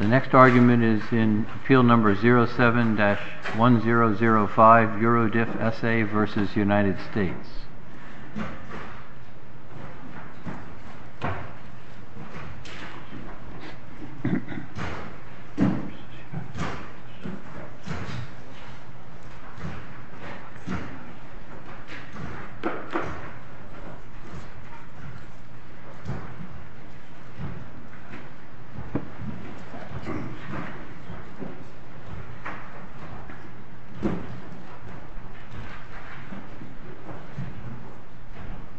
The next argument is in Appeal No. 07-1005 Eurodif SA v. United States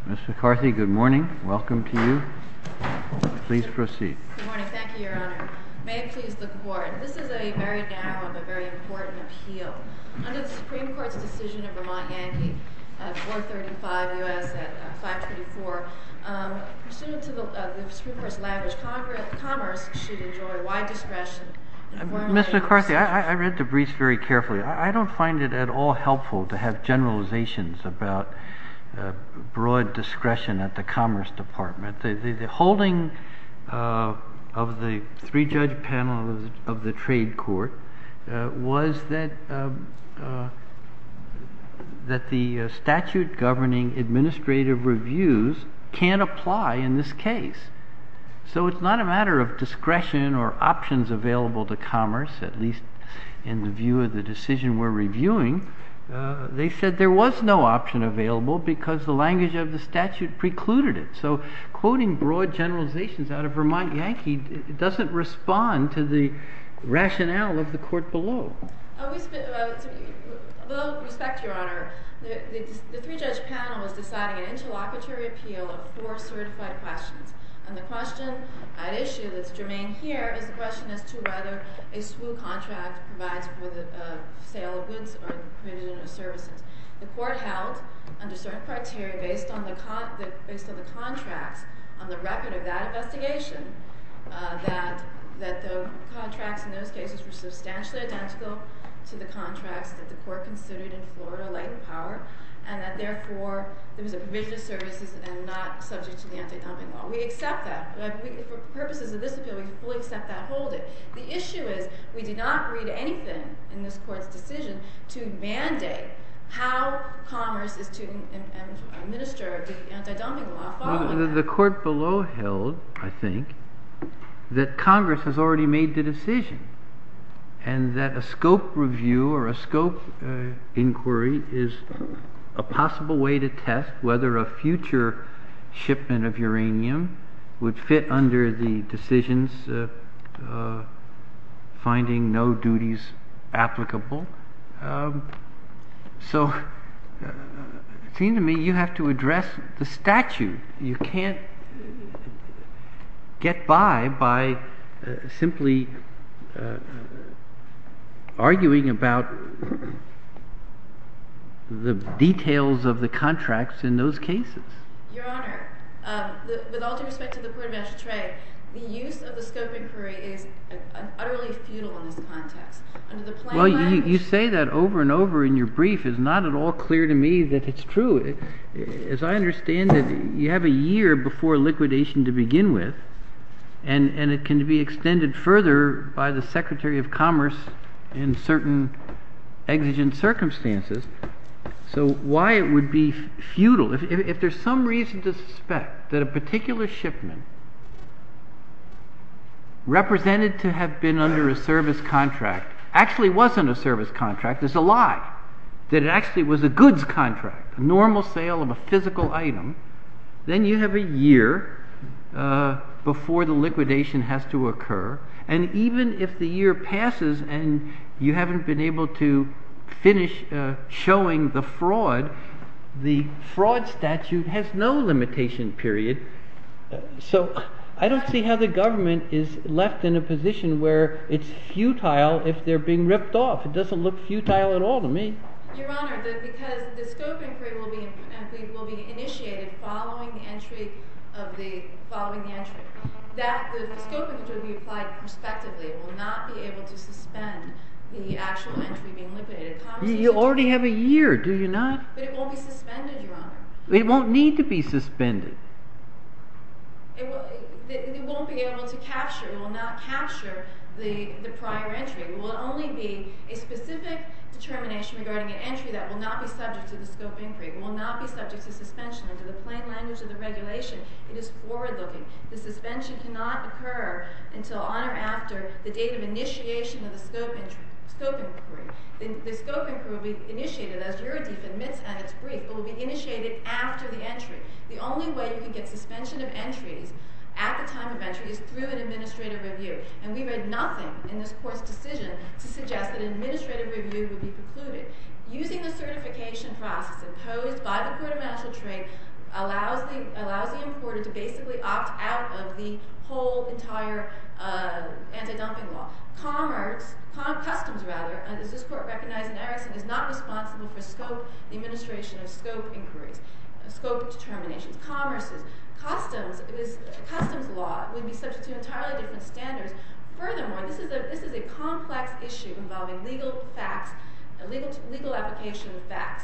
Mr. McCarthy, good morning. Welcome to you. Please proceed. Good morning. Thank you, Your Honor. May it please the Court, this is a very narrow but very important appeal. Under the Supreme Court's decision in Vermont Yankee at 435 U.S. at 524, pursuant to the Supreme Court's language, commerce should enjoy wide discretion. Mr. McCarthy, I read the briefs very carefully. I don't find it at all helpful to have generalizations about broad discretion at the Commerce Department. The holding of the three-judge panel of the trade court was that the statute governing administrative reviews can't apply in this case. So it's not a matter of discretion or options available to commerce, at least in the view of the decision we're reviewing. They said there was no option available because the language of the statute precluded it. So quoting broad generalizations out of Vermont Yankee doesn't respond to the rationale of the Court below. With all due respect, Your Honor, the three-judge panel was deciding an interlocutory appeal of four certified questions. And the question at issue that's germane here is the question as to whether a SWOO contract provides for the sale of goods or the provision of services. The Court held, under certain criteria, based on the contracts on the record of that investigation, that the contracts in those cases were substantially identical to the contracts that the Court considered in Florida latent power, and that, therefore, there was a provision of services and not subject to the anti-dumping law. We accept that. For purposes of this appeal, we fully accept that holding. The issue is we did not read anything in this Court's decision to mandate how commerce is to administer the anti-dumping law following that. The Court below held, I think, that Congress has already made the decision and that a scope review or a scope inquiry is a possible way to test whether a future shipment of uranium would fit under the decisions finding no duties applicable. So it seems to me you have to address the statute. You can't get by by simply arguing about the details of the contracts in those cases. Your Honor, with all due respect to the Port of Ashtray, the use of the scope inquiry is utterly futile in this context. Well, you say that over and over in your brief. It's not at all clear to me that it's true. As I understand it, you have a year before liquidation to begin with, and it can be extended further by the Secretary of Commerce in certain exigent circumstances. So why it would be futile? If there's some reason to suspect that a particular shipment represented to have been under a service contract actually wasn't a service contract, it's a lie, that it actually was a goods contract, a normal sale of a physical item, then you have a year before the liquidation has to occur. And even if the year passes and you haven't been able to finish showing the fraud, the fraud statute has no limitation period. So I don't see how the government is left in a position where it's futile if they're being ripped off. It doesn't look futile at all to me. Your Honor, because the scope inquiry will be initiated following the entry. The scope inquiry will be applied prospectively. It will not be able to suspend the actual entry being liquidated. You already have a year. Do you not? But it won't be suspended, Your Honor. It won't need to be suspended. It won't be able to capture. It will not capture the prior entry. It will only be a specific determination regarding an entry that will not be subject to the scope inquiry. It will not be subject to suspension. Under the plain language of the regulation, it is forward-looking. The suspension cannot occur until on or after the date of initiation of the scope inquiry. The scope inquiry will be initiated, as your defense admits at its brief, but will be initiated after the entry. The only way you can get suspension of entries at the time of entry is through an administrative review. And we read nothing in this Court's decision to suggest that an administrative review would be precluded. Using the certification process imposed by the Court of National Trade allows the importer to basically opt out of the whole entire anti-dumping law. Commerce, customs rather, as this Court recognized in Erickson, is not responsible for scope, the administration of scope inquiries, scope determinations. Commerce's customs law would be subject to entirely different standards. Furthermore, this is a complex issue involving legal facts, legal application of facts.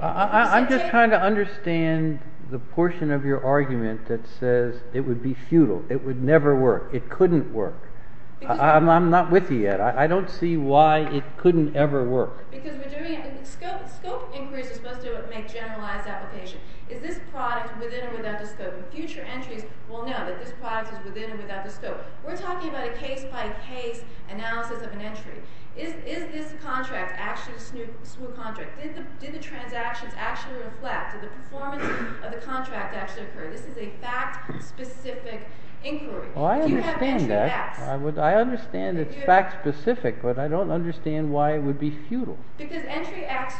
I'm just trying to understand the portion of your argument that says it would be futile, it would never work, it couldn't work. I'm not with you yet. I don't see why it couldn't ever work. Scope inquiries are supposed to make generalized application. Is this product within or without the scope? And future entries will know that this product is within or without the scope. We're talking about a case-by-case analysis of an entry. Is this contract actually a smooth contract? Did the transactions actually reflect? Did the performance of the contract actually occur? This is a fact-specific inquiry. Do you have entry facts? I understand it's fact-specific, but I don't understand why it would be futile. Because entry acts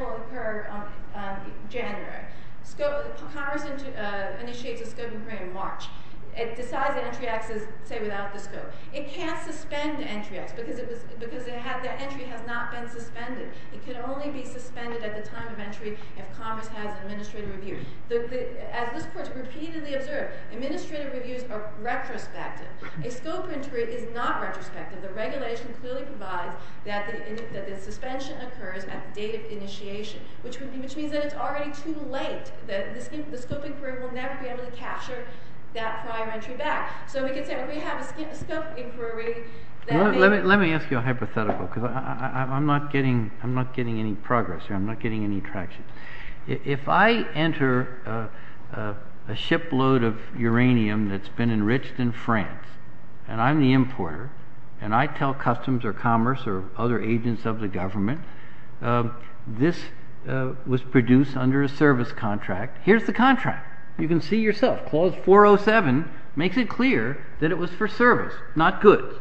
will occur on January. Commerce initiates a scope inquiry in March. It decides that entry acts, say, without the scope. It can't suspend entry acts because that entry has not been suspended. It can only be suspended at the time of entry if Commerce has an administrative review. As this Court has repeatedly observed, administrative reviews are retrospective. A scope inquiry is not retrospective. The regulation clearly provides that the suspension occurs at the date of initiation, which means that it's already too late. The scope inquiry will never be able to capture that prior entry back. So we could say we have a scope inquiry that may— Let me ask you a hypothetical because I'm not getting any progress here. I'm not getting any traction. If I enter a shipload of uranium that's been enriched in France, and I'm the importer, and I tell Customs or Commerce or other agents of the government this was produced under a service contract, here's the contract. You can see yourself. Clause 407 makes it clear that it was for service, not goods.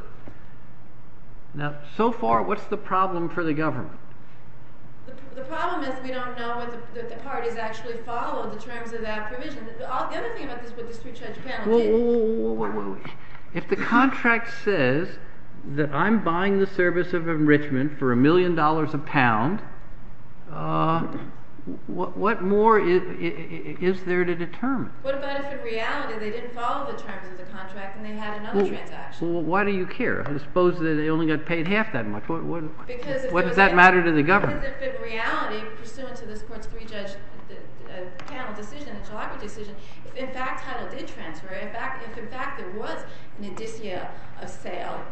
Now, so far, what's the problem for the government? The problem is we don't know if the parties actually followed the terms of that provision. The other thing about this is what the street judge panel did. If the contract says that I'm buying the service of enrichment for a million dollars a pound, what more is there to determine? What about if in reality they didn't follow the terms of the contract and they had another transaction? Well, why do you care? I suppose they only got paid half that much. What does that matter to the government? Because if in reality, pursuant to this Court's three-judge panel decision, the Jalopnik decision, if in fact title did transfer, if in fact there was an indicia of sale,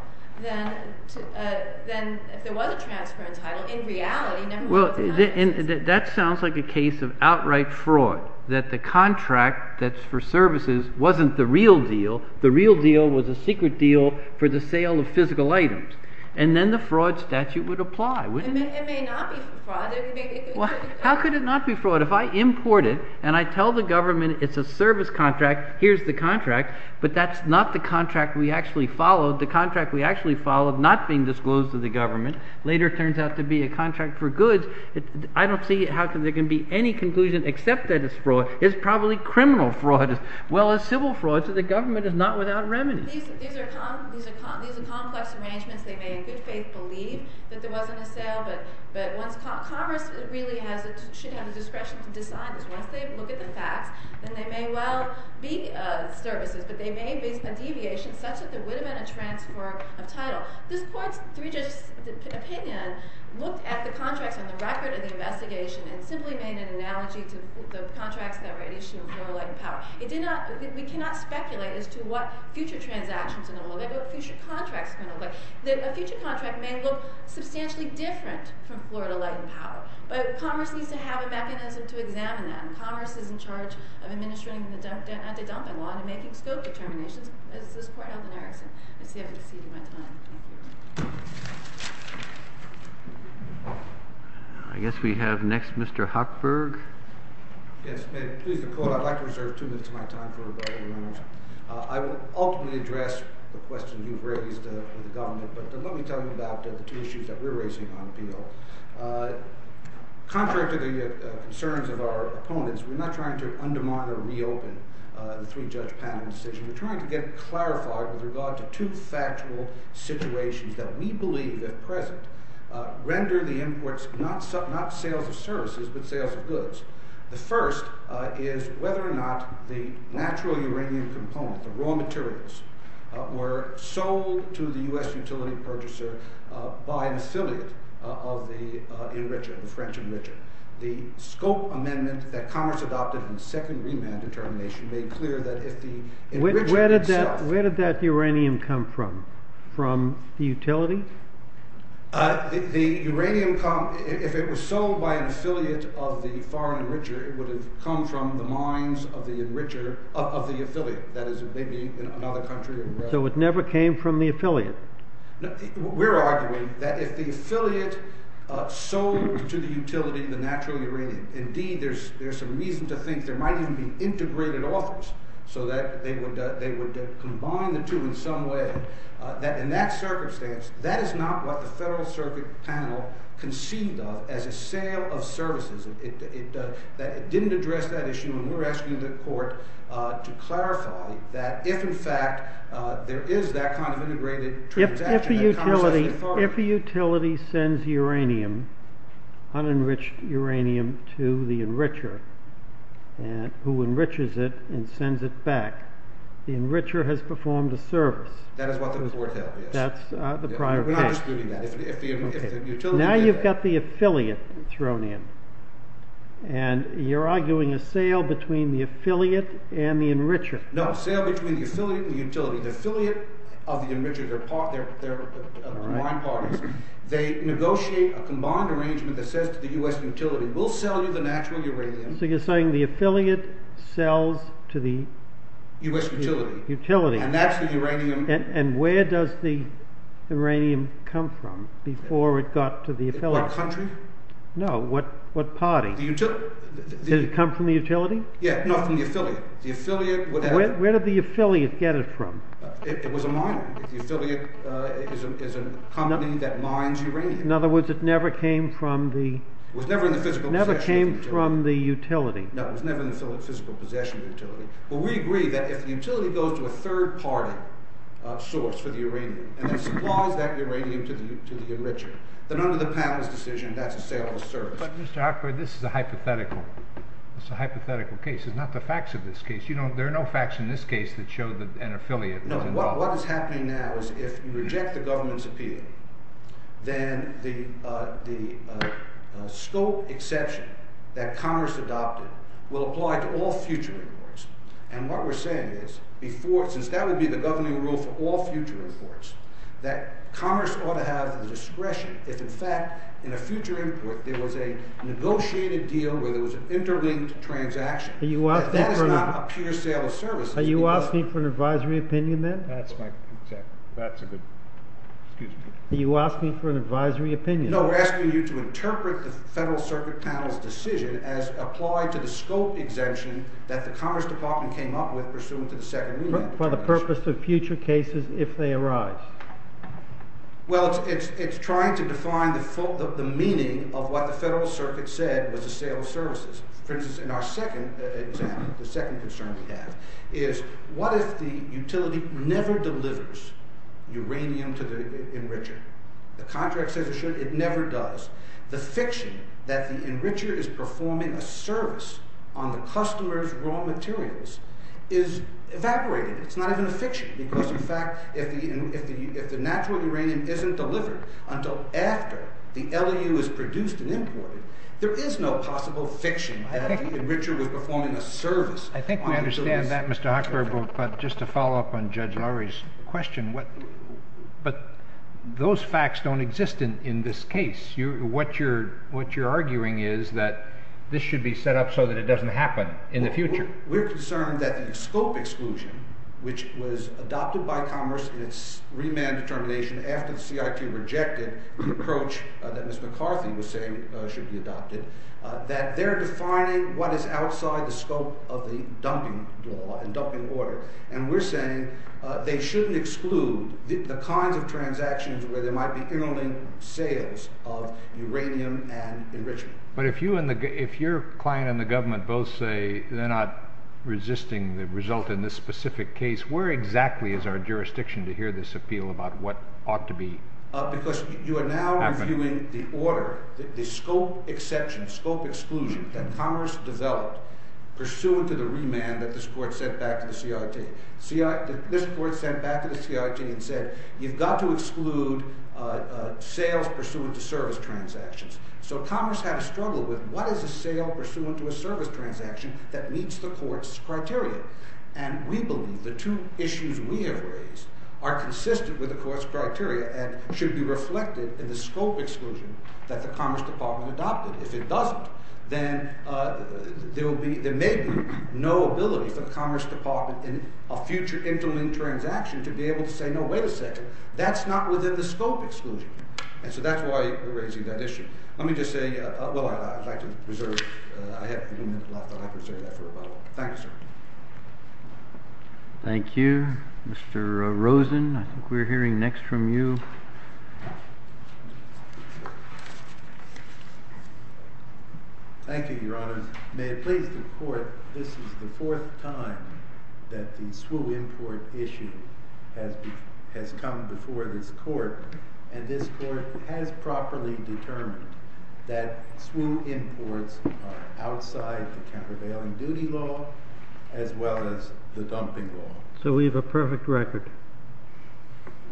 then if there was a transfer in title, in reality, no one would deny it. That sounds like a case of outright fraud, that the contract that's for services wasn't the real deal. The real deal was a secret deal for the sale of physical items. And then the fraud statute would apply, wouldn't it? It may not be fraud. How could it not be fraud? If I import it and I tell the government it's a service contract, here's the contract, but that's not the contract we actually followed, the contract we actually followed not being disclosed to the government, later turns out to be a contract for goods, I don't see how there can be any conclusion except that it's fraud. It's probably criminal fraud as well as civil fraud, so the government is not without remedies. These are complex arrangements. They may in good faith believe that there wasn't a sale, but once Congress really should have the discretion to decide this, once they look at the facts, then they may well be services, but they may be a deviation such that there would have been a transfer of title. This court's three-judge opinion looked at the contracts on the record of the investigation and simply made an analogy to the contracts that were issued with no leg power. We cannot speculate as to what future transactions are going to look like, what future contracts are going to look like. A future contract may look substantially different from Florida Light and Power, but Congress needs to have a mechanism to examine that, and Congress is in charge of administering the anti-dumping law and making scope determinations as this court held in Erickson. I see I've exceeded my time. Thank you. I guess we have next Mr. Hochberg. Yes, ma'am. Please, the court, I'd like to reserve two minutes of my time for rebuttal. I will ultimately address the question you've raised with the government, but let me tell you about the two issues that we're raising on appeal. Contrary to the concerns of our opponents, we're not trying to undermine or reopen the three-judge panel decision. We're trying to get clarified with regard to two factual situations that we believe at present render the imports not sales of services, but sales of goods. The first is whether or not the natural uranium component, the raw materials, were sold to the U.S. utility purchaser by an affiliate of the enricher, the French enricher. The scope amendment that Congress adopted in the second remand determination made clear that if the enricher itself- Where did that uranium come from? From the utility? The uranium, if it was sold by an affiliate of the foreign enricher, it would have come from the mines of the affiliate. That is, it may be in another country. So it never came from the affiliate? We're arguing that if the affiliate sold to the utility, the natural uranium, indeed there's some reason to think there might even be integrated authors so that they would combine the two in some way. But in that circumstance, that is not what the Federal Circuit panel conceived of as a sale of services. It didn't address that issue, and we're asking the court to clarify that if, in fact, there is that kind of integrated transaction- If a utility sends uranium, unenriched uranium, to the enricher, who enriches it and sends it back, the enricher has performed a service. That is what the court held, yes. That's the prior case. We're not disputing that. Now you've got the affiliate thrown in, and you're arguing a sale between the affiliate and the enricher. No, a sale between the affiliate and the utility. The affiliate of the enricher, their mine partners, they negotiate a combined arrangement that says to the U.S. utility, we'll sell you the natural uranium- So you're saying the affiliate sells to the- U.S. utility. Utility. And that's the uranium- And where does the uranium come from before it got to the affiliate? What country? No, what party? The utility. Did it come from the utility? Yeah, no, from the affiliate. The affiliate- Where did the affiliate get it from? It was a mine. The affiliate is a company that mines uranium. In other words, it never came from the- It was never in the physical possession of the utility. Never came from the utility. No, it was never in the physical possession of the utility. But we agree that if the utility goes to a third-party source for the uranium and then supplies that uranium to the enricher, then under the panelist's decision, that's a sale of the service. But, Mr. Hochberg, this is a hypothetical. It's a hypothetical case. It's not the facts of this case. There are no facts in this case that show that an affiliate was involved. No, what is happening now is if you reject the government's appeal, then the scope exception that Congress adopted will apply to all future imports. And what we're saying is, since that would be the governing rule for all future imports, that Congress ought to have the discretion if, in fact, in a future import, there was a negotiated deal where there was an interlinked transaction. That is not a pure sale of services. Are you asking for an advisory opinion then? That's a good—excuse me. Are you asking for an advisory opinion? No, we're asking you to interpret the Federal Circuit panel's decision as applied to the scope exemption that the Congress department came up with pursuant to the second reading. For the purpose of future cases if they arise. Well, it's trying to define the meaning of what the Federal Circuit said was a sale of services. For instance, in our second example, the second concern we have, is what if the utility never delivers uranium to the enricher? The contract says it should. It never does. The fiction that the enricher is performing a service on the customer's raw materials is evaporating. It's not even a fiction because, in fact, if the natural uranium isn't delivered until after the LEU is produced and imported, there is no possible fiction that the enricher was performing a service on the utility. I understand that, Mr. Hochberg, but just to follow up on Judge Lowry's question, but those facts don't exist in this case. What you're arguing is that this should be set up so that it doesn't happen in the future. We're concerned that the scope exclusion, which was adopted by Congress in its remand determination after the CIT rejected the approach that Ms. McCarthy was saying should be adopted, that they're defining what is outside the scope of the dumping law and dumping order, and we're saying they shouldn't exclude the kinds of transactions where there might be interlinked sales of uranium and enrichment. But if your client and the government both say they're not resisting the result in this specific case, where exactly is our jurisdiction to hear this appeal about what ought to be happening? Because you are now reviewing the order, the scope exception, scope exclusion, that Congress developed pursuant to the remand that this Court sent back to the CIT. This Court sent back to the CIT and said, you've got to exclude sales pursuant to service transactions. So Congress had a struggle with what is a sale pursuant to a service transaction that meets the Court's criteria. And we believe the two issues we have raised are consistent with the Court's criteria and should be reflected in the scope exclusion that the Commerce Department adopted. If it doesn't, then there may be no ability for the Commerce Department in a future interlinked transaction to be able to say, no, wait a second, that's not within the scope exclusion. And so that's why we're raising that issue. Let me just say, well, I'd like to reserve, I have a few minutes left, but I'd like to reserve that for rebuttal. Thank you, sir. Thank you. Mr. Rosen, I think we're hearing next from you. Thank you, Your Honors. May it please the Court, this is the fourth time that the SWU import issue has come before this Court, and this Court has properly determined that SWU imports are outside the countervailing duty law as well as the dumping law. So we have a perfect record.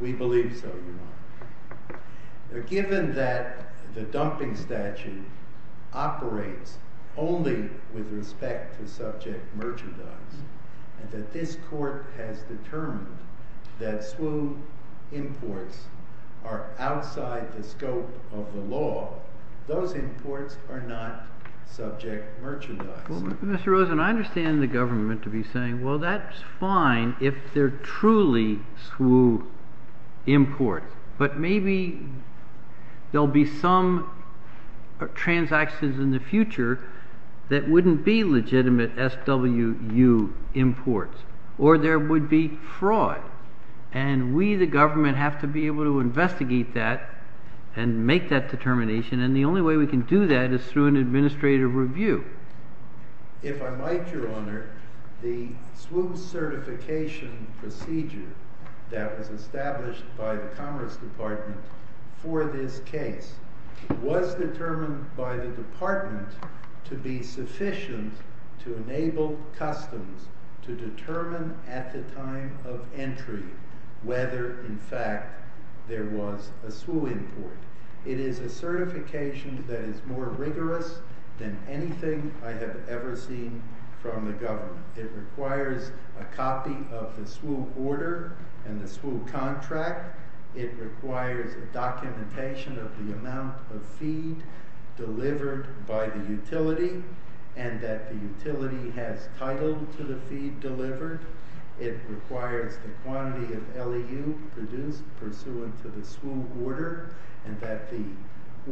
We believe so, Your Honor. Given that the dumping statute operates only with respect to subject merchandise, and that this Court has determined that SWU imports are outside the scope of the law, those imports are not subject merchandise. Mr. Rosen, I understand the government to be saying, well, that's fine if they're truly SWU imports, but maybe there'll be some transactions in the future that wouldn't be legitimate SWU imports, or there would be fraud. And we, the government, have to be able to investigate that and make that determination, and the only way we can do that is through an administrative review. If I might, Your Honor, the SWU certification procedure that was established by the Commerce Department for this case was determined by the department to be sufficient to enable customs to determine at the time of entry whether, in fact, there was a SWU import. It is a certification that is more rigorous than anything I have ever seen from the government. It requires a copy of the SWU order and the SWU contract. It requires a documentation of the amount of feed delivered by the utility, and that the utility has title to the feed delivered. It requires the quantity of LEU produced pursuant to the SWU order, and that the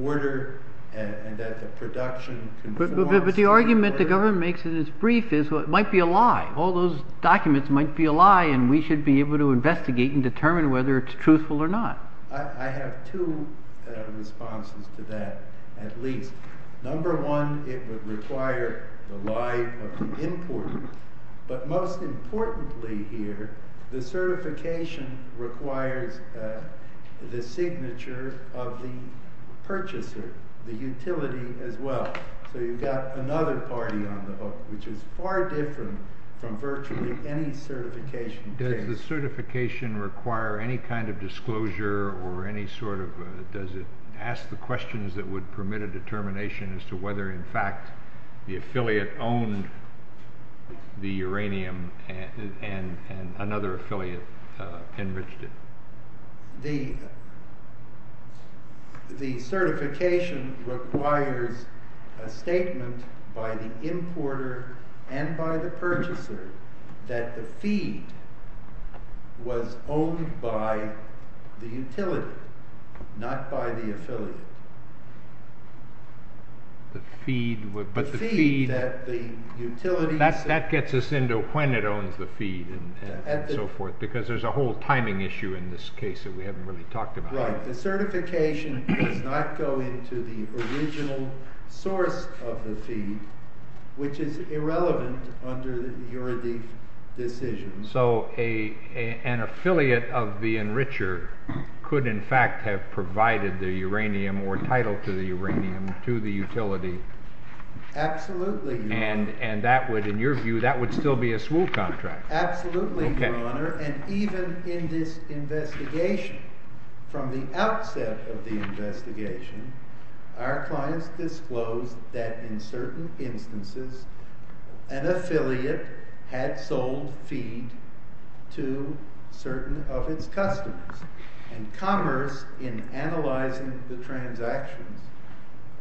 order and that the production conforms to the order. But the argument the government makes in its brief is, well, it might be a lie. All those documents might be a lie, and we should be able to investigate and determine whether it's truthful or not. I have two responses to that, at least. Number one, it would require the lie of the importer. But most importantly here, the certification requires the signature of the purchaser, the utility as well. So you've got another party on the hook, which is far different from virtually any certification case. Does the certification require any kind of disclosure, or does it ask the questions that would permit a determination as to whether, in fact, the affiliate owned the uranium and another affiliate enriched it? The certification requires a statement by the importer and by the purchaser that the feed was owned by the utility, not by the affiliate. That gets us into when it owns the feed and so forth, because there's a whole timing issue in this case that we haven't really talked about. Right. The certification does not go into the original source of the feed, which is irrelevant under the UraDeef decision. So an affiliate of the enricher could in fact have provided the uranium or title to the uranium to the utility. Absolutely. And that would, in your view, that would still be a SWOO contract. Absolutely, Your Honor. And even in this investigation, from the outset of the investigation, our clients disclosed that in certain instances an affiliate had sold feed to certain of its customers. And Commerce, in analyzing the transactions,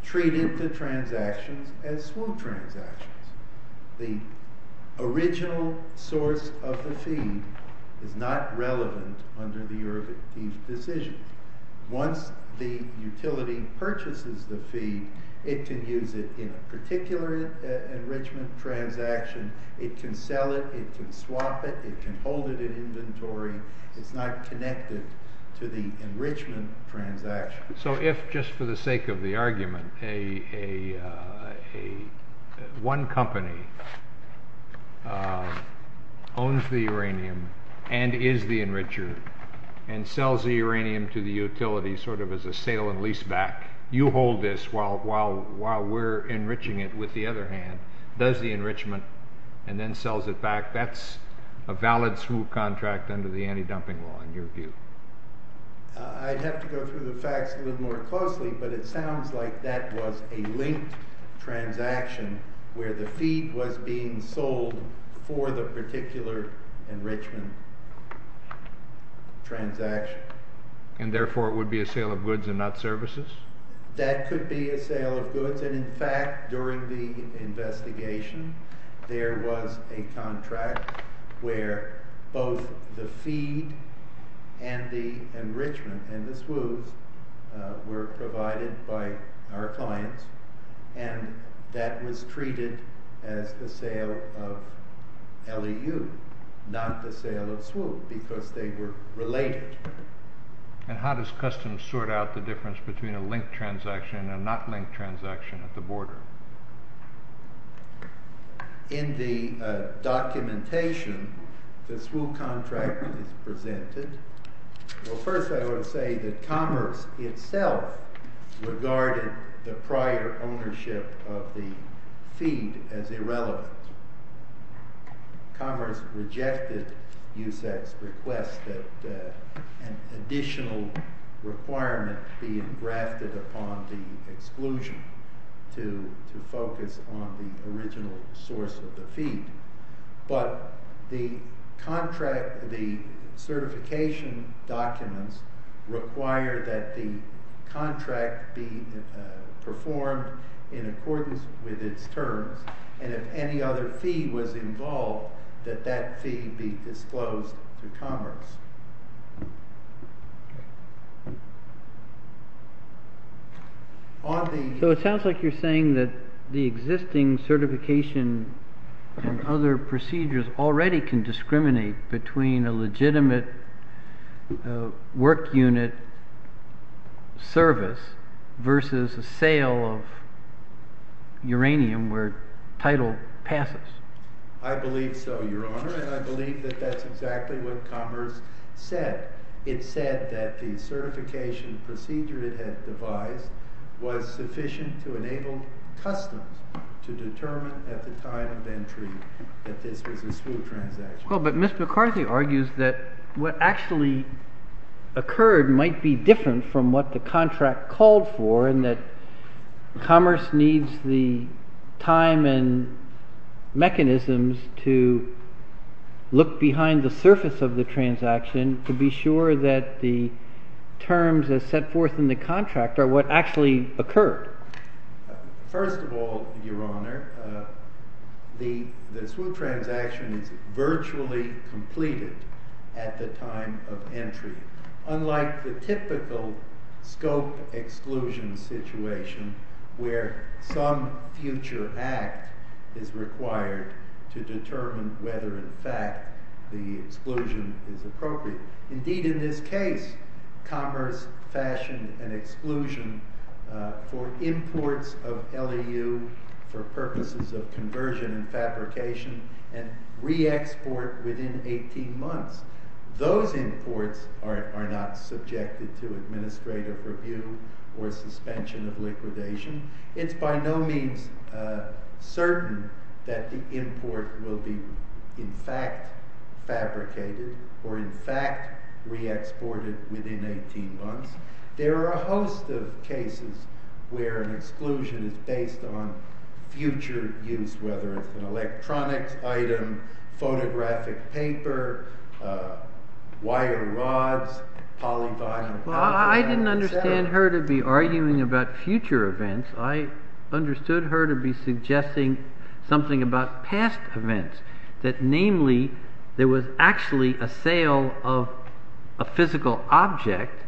treated the transactions as SWOO transactions. The original source of the feed is not relevant under the UraDeef decision. Once the utility purchases the feed, it can use it in a particular enrichment transaction. It can sell it. It can swap it. It can hold it in inventory. It's not connected to the enrichment transaction. So if, just for the sake of the argument, one company owns the uranium and is the enricher, and sells the uranium to the utility sort of as a sale and lease back, you hold this while we're enriching it with the other hand, does the enrichment, and then sells it back, that's a valid SWOO contract under the anti-dumping law in your view? I'd have to go through the facts a little more closely, but it sounds like that was a linked transaction where the feed was being sold for the particular enrichment transaction. And therefore it would be a sale of goods and not services? In fact, during the investigation, there was a contract where both the feed and the enrichment and the SWOOs were provided by our clients, and that was treated as the sale of LEU, not the sale of SWOO, because they were related. And how does Customs sort out the difference between a linked transaction and a not linked transaction at the border? In the documentation, the SWOO contract is presented. Well, first I would say that Commerce itself regarded the prior ownership of the feed as irrelevant. Commerce rejected USAC's request that an additional requirement be grafted upon the exclusion to focus on the original source of the feed. But the certification documents require that the contract be performed in accordance with its terms, and if any other feed was involved, that that feed be disclosed to Commerce. So it sounds like you're saying that the existing certification and other procedures already can discriminate between a legitimate work unit service versus a sale of uranium where title passes. I believe so, Your Honor, and I believe that that's exactly what Commerce said. It said that the certification procedure it had devised was sufficient to enable Customs to determine at the time of entry that this was a SWOO transaction. Well, but Ms. McCarthy argues that what actually occurred might be different from what the contract called for, and that Commerce needs the time and mechanisms to look behind the surface of the transaction to be sure that the terms as set forth in the contract are what actually occurred. First of all, Your Honor, the SWOO transaction is virtually completed at the time of entry, unlike the typical scope exclusion situation where some future act is required to determine whether in fact the exclusion is appropriate. Indeed, in this case, Commerce fashioned an exclusion for imports of LEU for purposes of conversion and fabrication and re-export within 18 months. Those imports are not subjected to administrative review or suspension of liquidation. It's by no means certain that the import will be in fact fabricated or in fact re-exported within 18 months. There are a host of cases where an exclusion is based on future use, whether it's an electronics item, photographic paper, wire rods, polyvinyl. Well, I didn't understand her to be arguing about future events. I understood her to be suggesting something about past events, that namely there was actually a sale of a physical object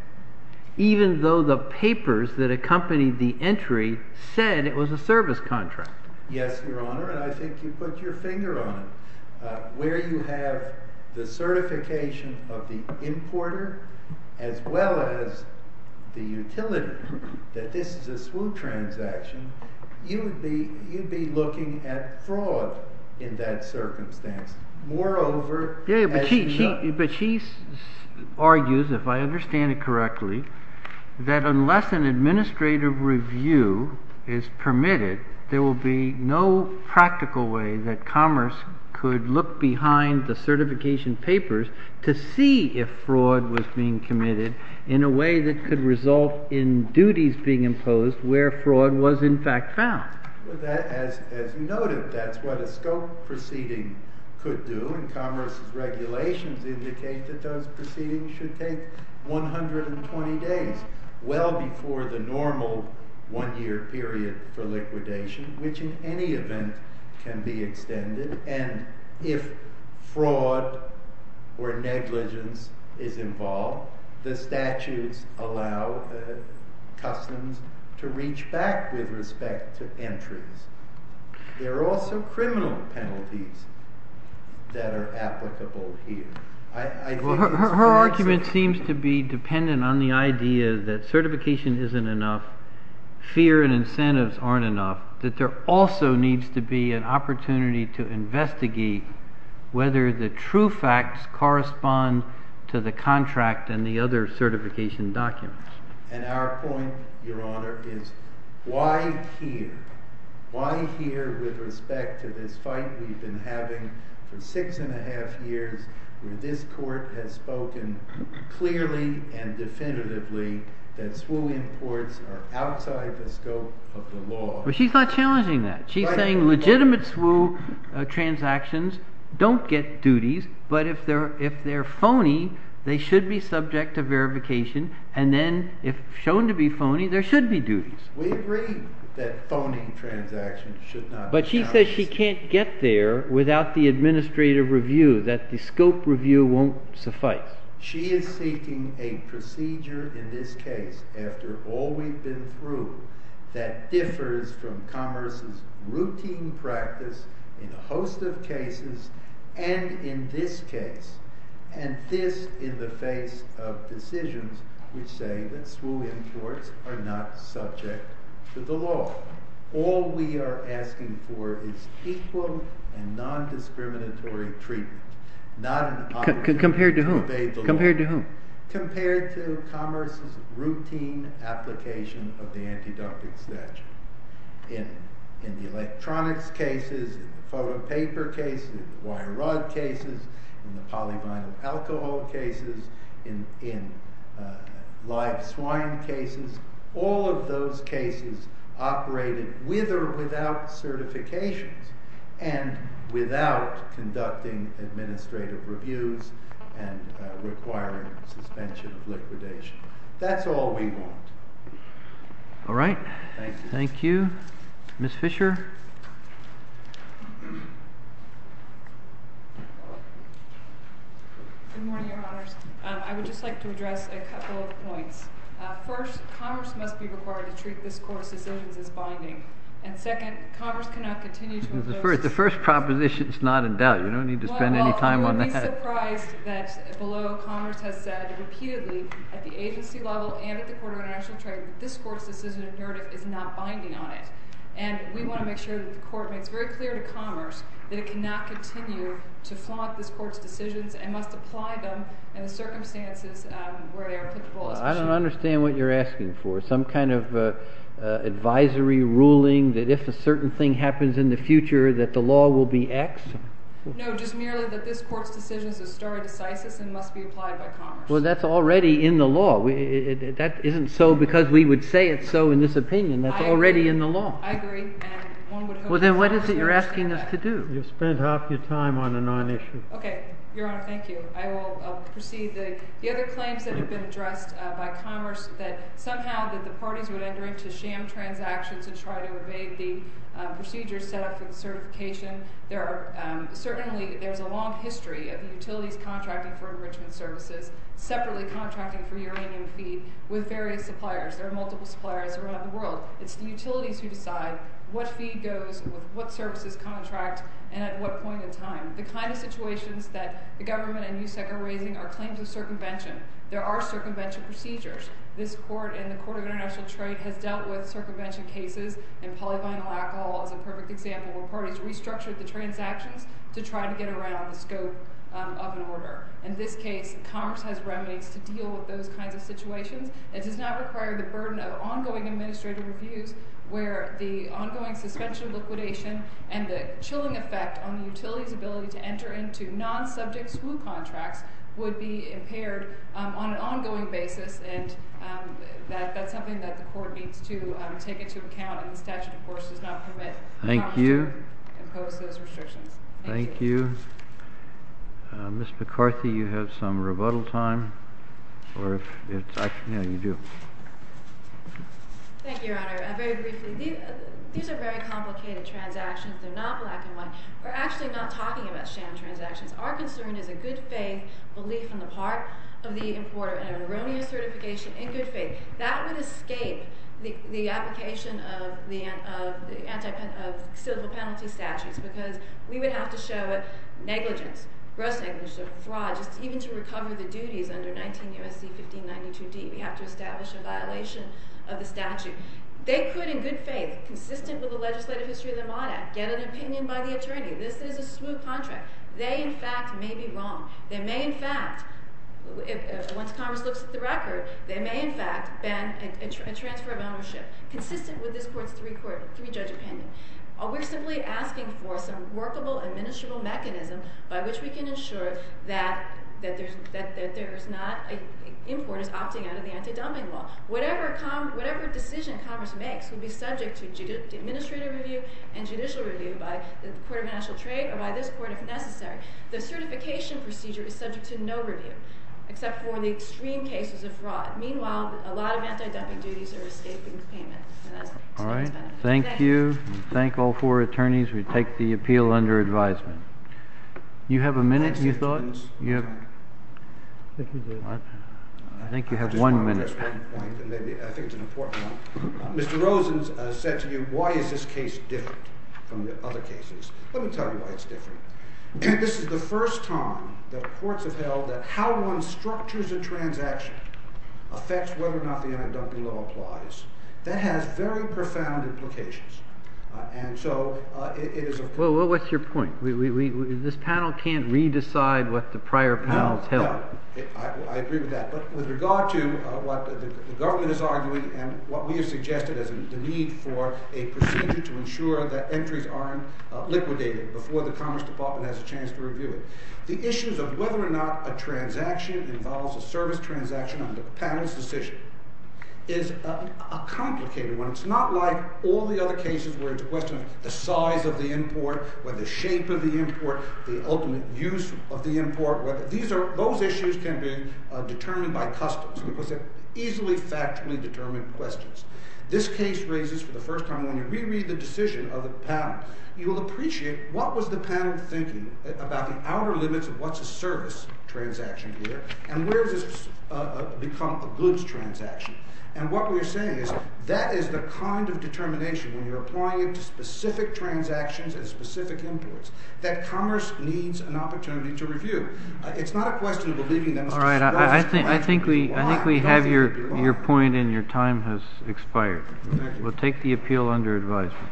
even though the papers that accompanied the entry said it was a service contract. Yes, Your Honor, and I think you put your finger on it. Where you have the certification of the importer as well as the utility, that this is a SWOO transaction, you'd be looking at fraud in that circumstance. Moreover, as you know. Yeah, but she argues, if I understand it correctly, that unless an administrative review is permitted, there will be no practical way that Commerce could look behind the certification papers to see if fraud was being committed in a way that could result in duties being imposed where fraud was in fact found. As you noted, that's what a scope proceeding could do, and Commerce's regulations indicate that those proceedings should take 120 days, well before the normal one-year period for liquidation, which in any event can be extended. And if fraud or negligence is involved, the statutes allow customs to reach back with respect to entries. There are also criminal penalties that are applicable here. Her argument seems to be dependent on the idea that certification isn't enough, fear and incentives aren't enough, that there also needs to be an opportunity to investigate whether the true facts correspond to the contract and the other certification documents. And our point, Your Honor, is why here? With respect to this fight we've been having for six and a half years, where this Court has spoken clearly and definitively that SWOO imports are outside the scope of the law. But she's not challenging that. She's saying legitimate SWOO transactions don't get duties, but if they're phony, they should be subject to verification, and then if shown to be phony, there should be duties. We agree that phony transactions should not be challenged. But she says she can't get there without the administrative review, that the scope review won't suffice. She is seeking a procedure in this case, after all we've been through, that differs from commerce's routine practice in a host of cases and in this case, and this in the face of decisions which say that SWOO imports are not subject to the law. All we are asking for is equal and non-discriminatory treatment. Not an opportunity to obey the law. Compared to whom? Compared to commerce's routine application of the antiductic statute. In the electronics cases, in the photo paper cases, in the wire rod cases, in the polyvinyl alcohol cases, in live swine cases, all of those cases operated with or without certifications, and without conducting administrative reviews and requiring suspension of liquidation. That's all we want. All right. Thank you. Ms. Fisher. Good morning, Your Honors. I would just like to address a couple of points. First, commerce must be required to treat this Court's decisions as binding. And second, commerce cannot continue to impose- The first proposition is not in doubt. You don't need to spend any time on that. I'm just surprised that below, commerce has said repeatedly at the agency level and at the Court of International Trade that this Court's decision of narrative is not binding on it. And we want to make sure that the Court makes very clear to commerce that it cannot continue to flaunt this Court's decisions and must apply them in the circumstances where they are applicable. I don't understand what you're asking for. Some kind of advisory ruling that if a certain thing happens in the future that the law will be X? No, just merely that this Court's decisions are stare decisis and must be applied by commerce. Well, that's already in the law. That isn't so because we would say it's so in this opinion. That's already in the law. I agree. Well, then what is it you're asking us to do? You've spent half your time on a non-issue. Okay. Your Honor, thank you. I will proceed. The other claims that have been addressed by commerce, that somehow that the parties would enter into sham transactions and try to evade the procedure set up for the certification. Certainly there's a long history of utilities contracting for enrichment services separately contracting for uranium feed with various suppliers. There are multiple suppliers around the world. It's the utilities who decide what feed goes with what services contract and at what point in time. The kind of situations that the government and USEC are raising are claims of circumvention. There are circumvention procedures. This Court and the Court of International Trade has dealt with circumvention cases and polyvinyl alcohol is a perfect example where parties restructured the transactions to try to get around the scope of an order. In this case, commerce has remedies to deal with those kinds of situations. It does not require the burden of ongoing administrative reviews where the ongoing suspension of liquidation and the chilling effect on the utility's ability to enter into non-subject school contracts would be impaired on an ongoing basis. And that's something that the Court needs to take into account. And the statute, of course, does not permit the Congress to impose those restrictions. Thank you. Ms. McCarthy, you have some rebuttal time? Or if it's actually, yeah, you do. Thank you, Your Honor. Very briefly, these are very complicated transactions. They're not black and white. We're actually not talking about sham transactions. Our concern is a good faith belief in the part of the importer and an erroneous certification in good faith. That would escape the application of civil penalty statutes because we would have to show negligence, gross negligence, fraud, just even to recover the duties under 19 U.S.C. 1592D. We have to establish a violation of the statute. They could, in good faith, consistent with the legislative history of the Mott Act, get an opinion by the attorney. This is a smooth contract. They, in fact, may be wrong. They may, in fact, once Congress looks at the record, they may, in fact, ban a transfer of ownership consistent with this court's three-court jury-judge opinion. We're simply asking for some workable, administrable mechanism by which we can ensure that there is not importers opting out of the anti-dumbing law. Whatever decision Congress makes will be subject to administrative review and judicial review by the Court of National Trade or by this Court, if necessary. The certification procedure is subject to no review except for the extreme cases of fraud. Meanwhile, a lot of anti-dumbing duties are escaping payment. And that's to no one's benefit. Thank you. Thank all four attorneys. We take the appeal under advisement. You have a minute, you thought? I think you do. I think you have one minute. I just want to make a point, and I think it's an important one. Mr. Rosen said to you, why is this case different from the other cases? Let me tell you why it's different. This is the first time that courts have held that how one structures a transaction affects whether or not the anti-dumbing law applies. That has very profound implications. And so it is of concern. Well, what's your point? This panel can't re-decide what the prior panels held. I agree with that. But with regard to what the government is arguing and what we have suggested as the need for a procedure to ensure that entries aren't liquidated before the Commerce Department has a chance to review it, the issues of whether or not a transaction involves a service transaction under the panel's decision is a complicated one. It's not like all the other cases where it's a question of the size of the import, whether the shape of the import, the ultimate use of the import, whether these or those issues can be determined by customs, because they're easily factually determined questions. This case raises, for the first time, when you re-read the decision of the panel, you will appreciate what was the panel thinking about the outer limits of what's a service transaction here, and where does this become a goods transaction. And what we're saying is that is the kind of determination when you're applying it to specific transactions and specific imports that commerce needs an opportunity to review. It's not a question of believing them. All right. I think we have your point and your time has expired. We'll take the appeal under advisement.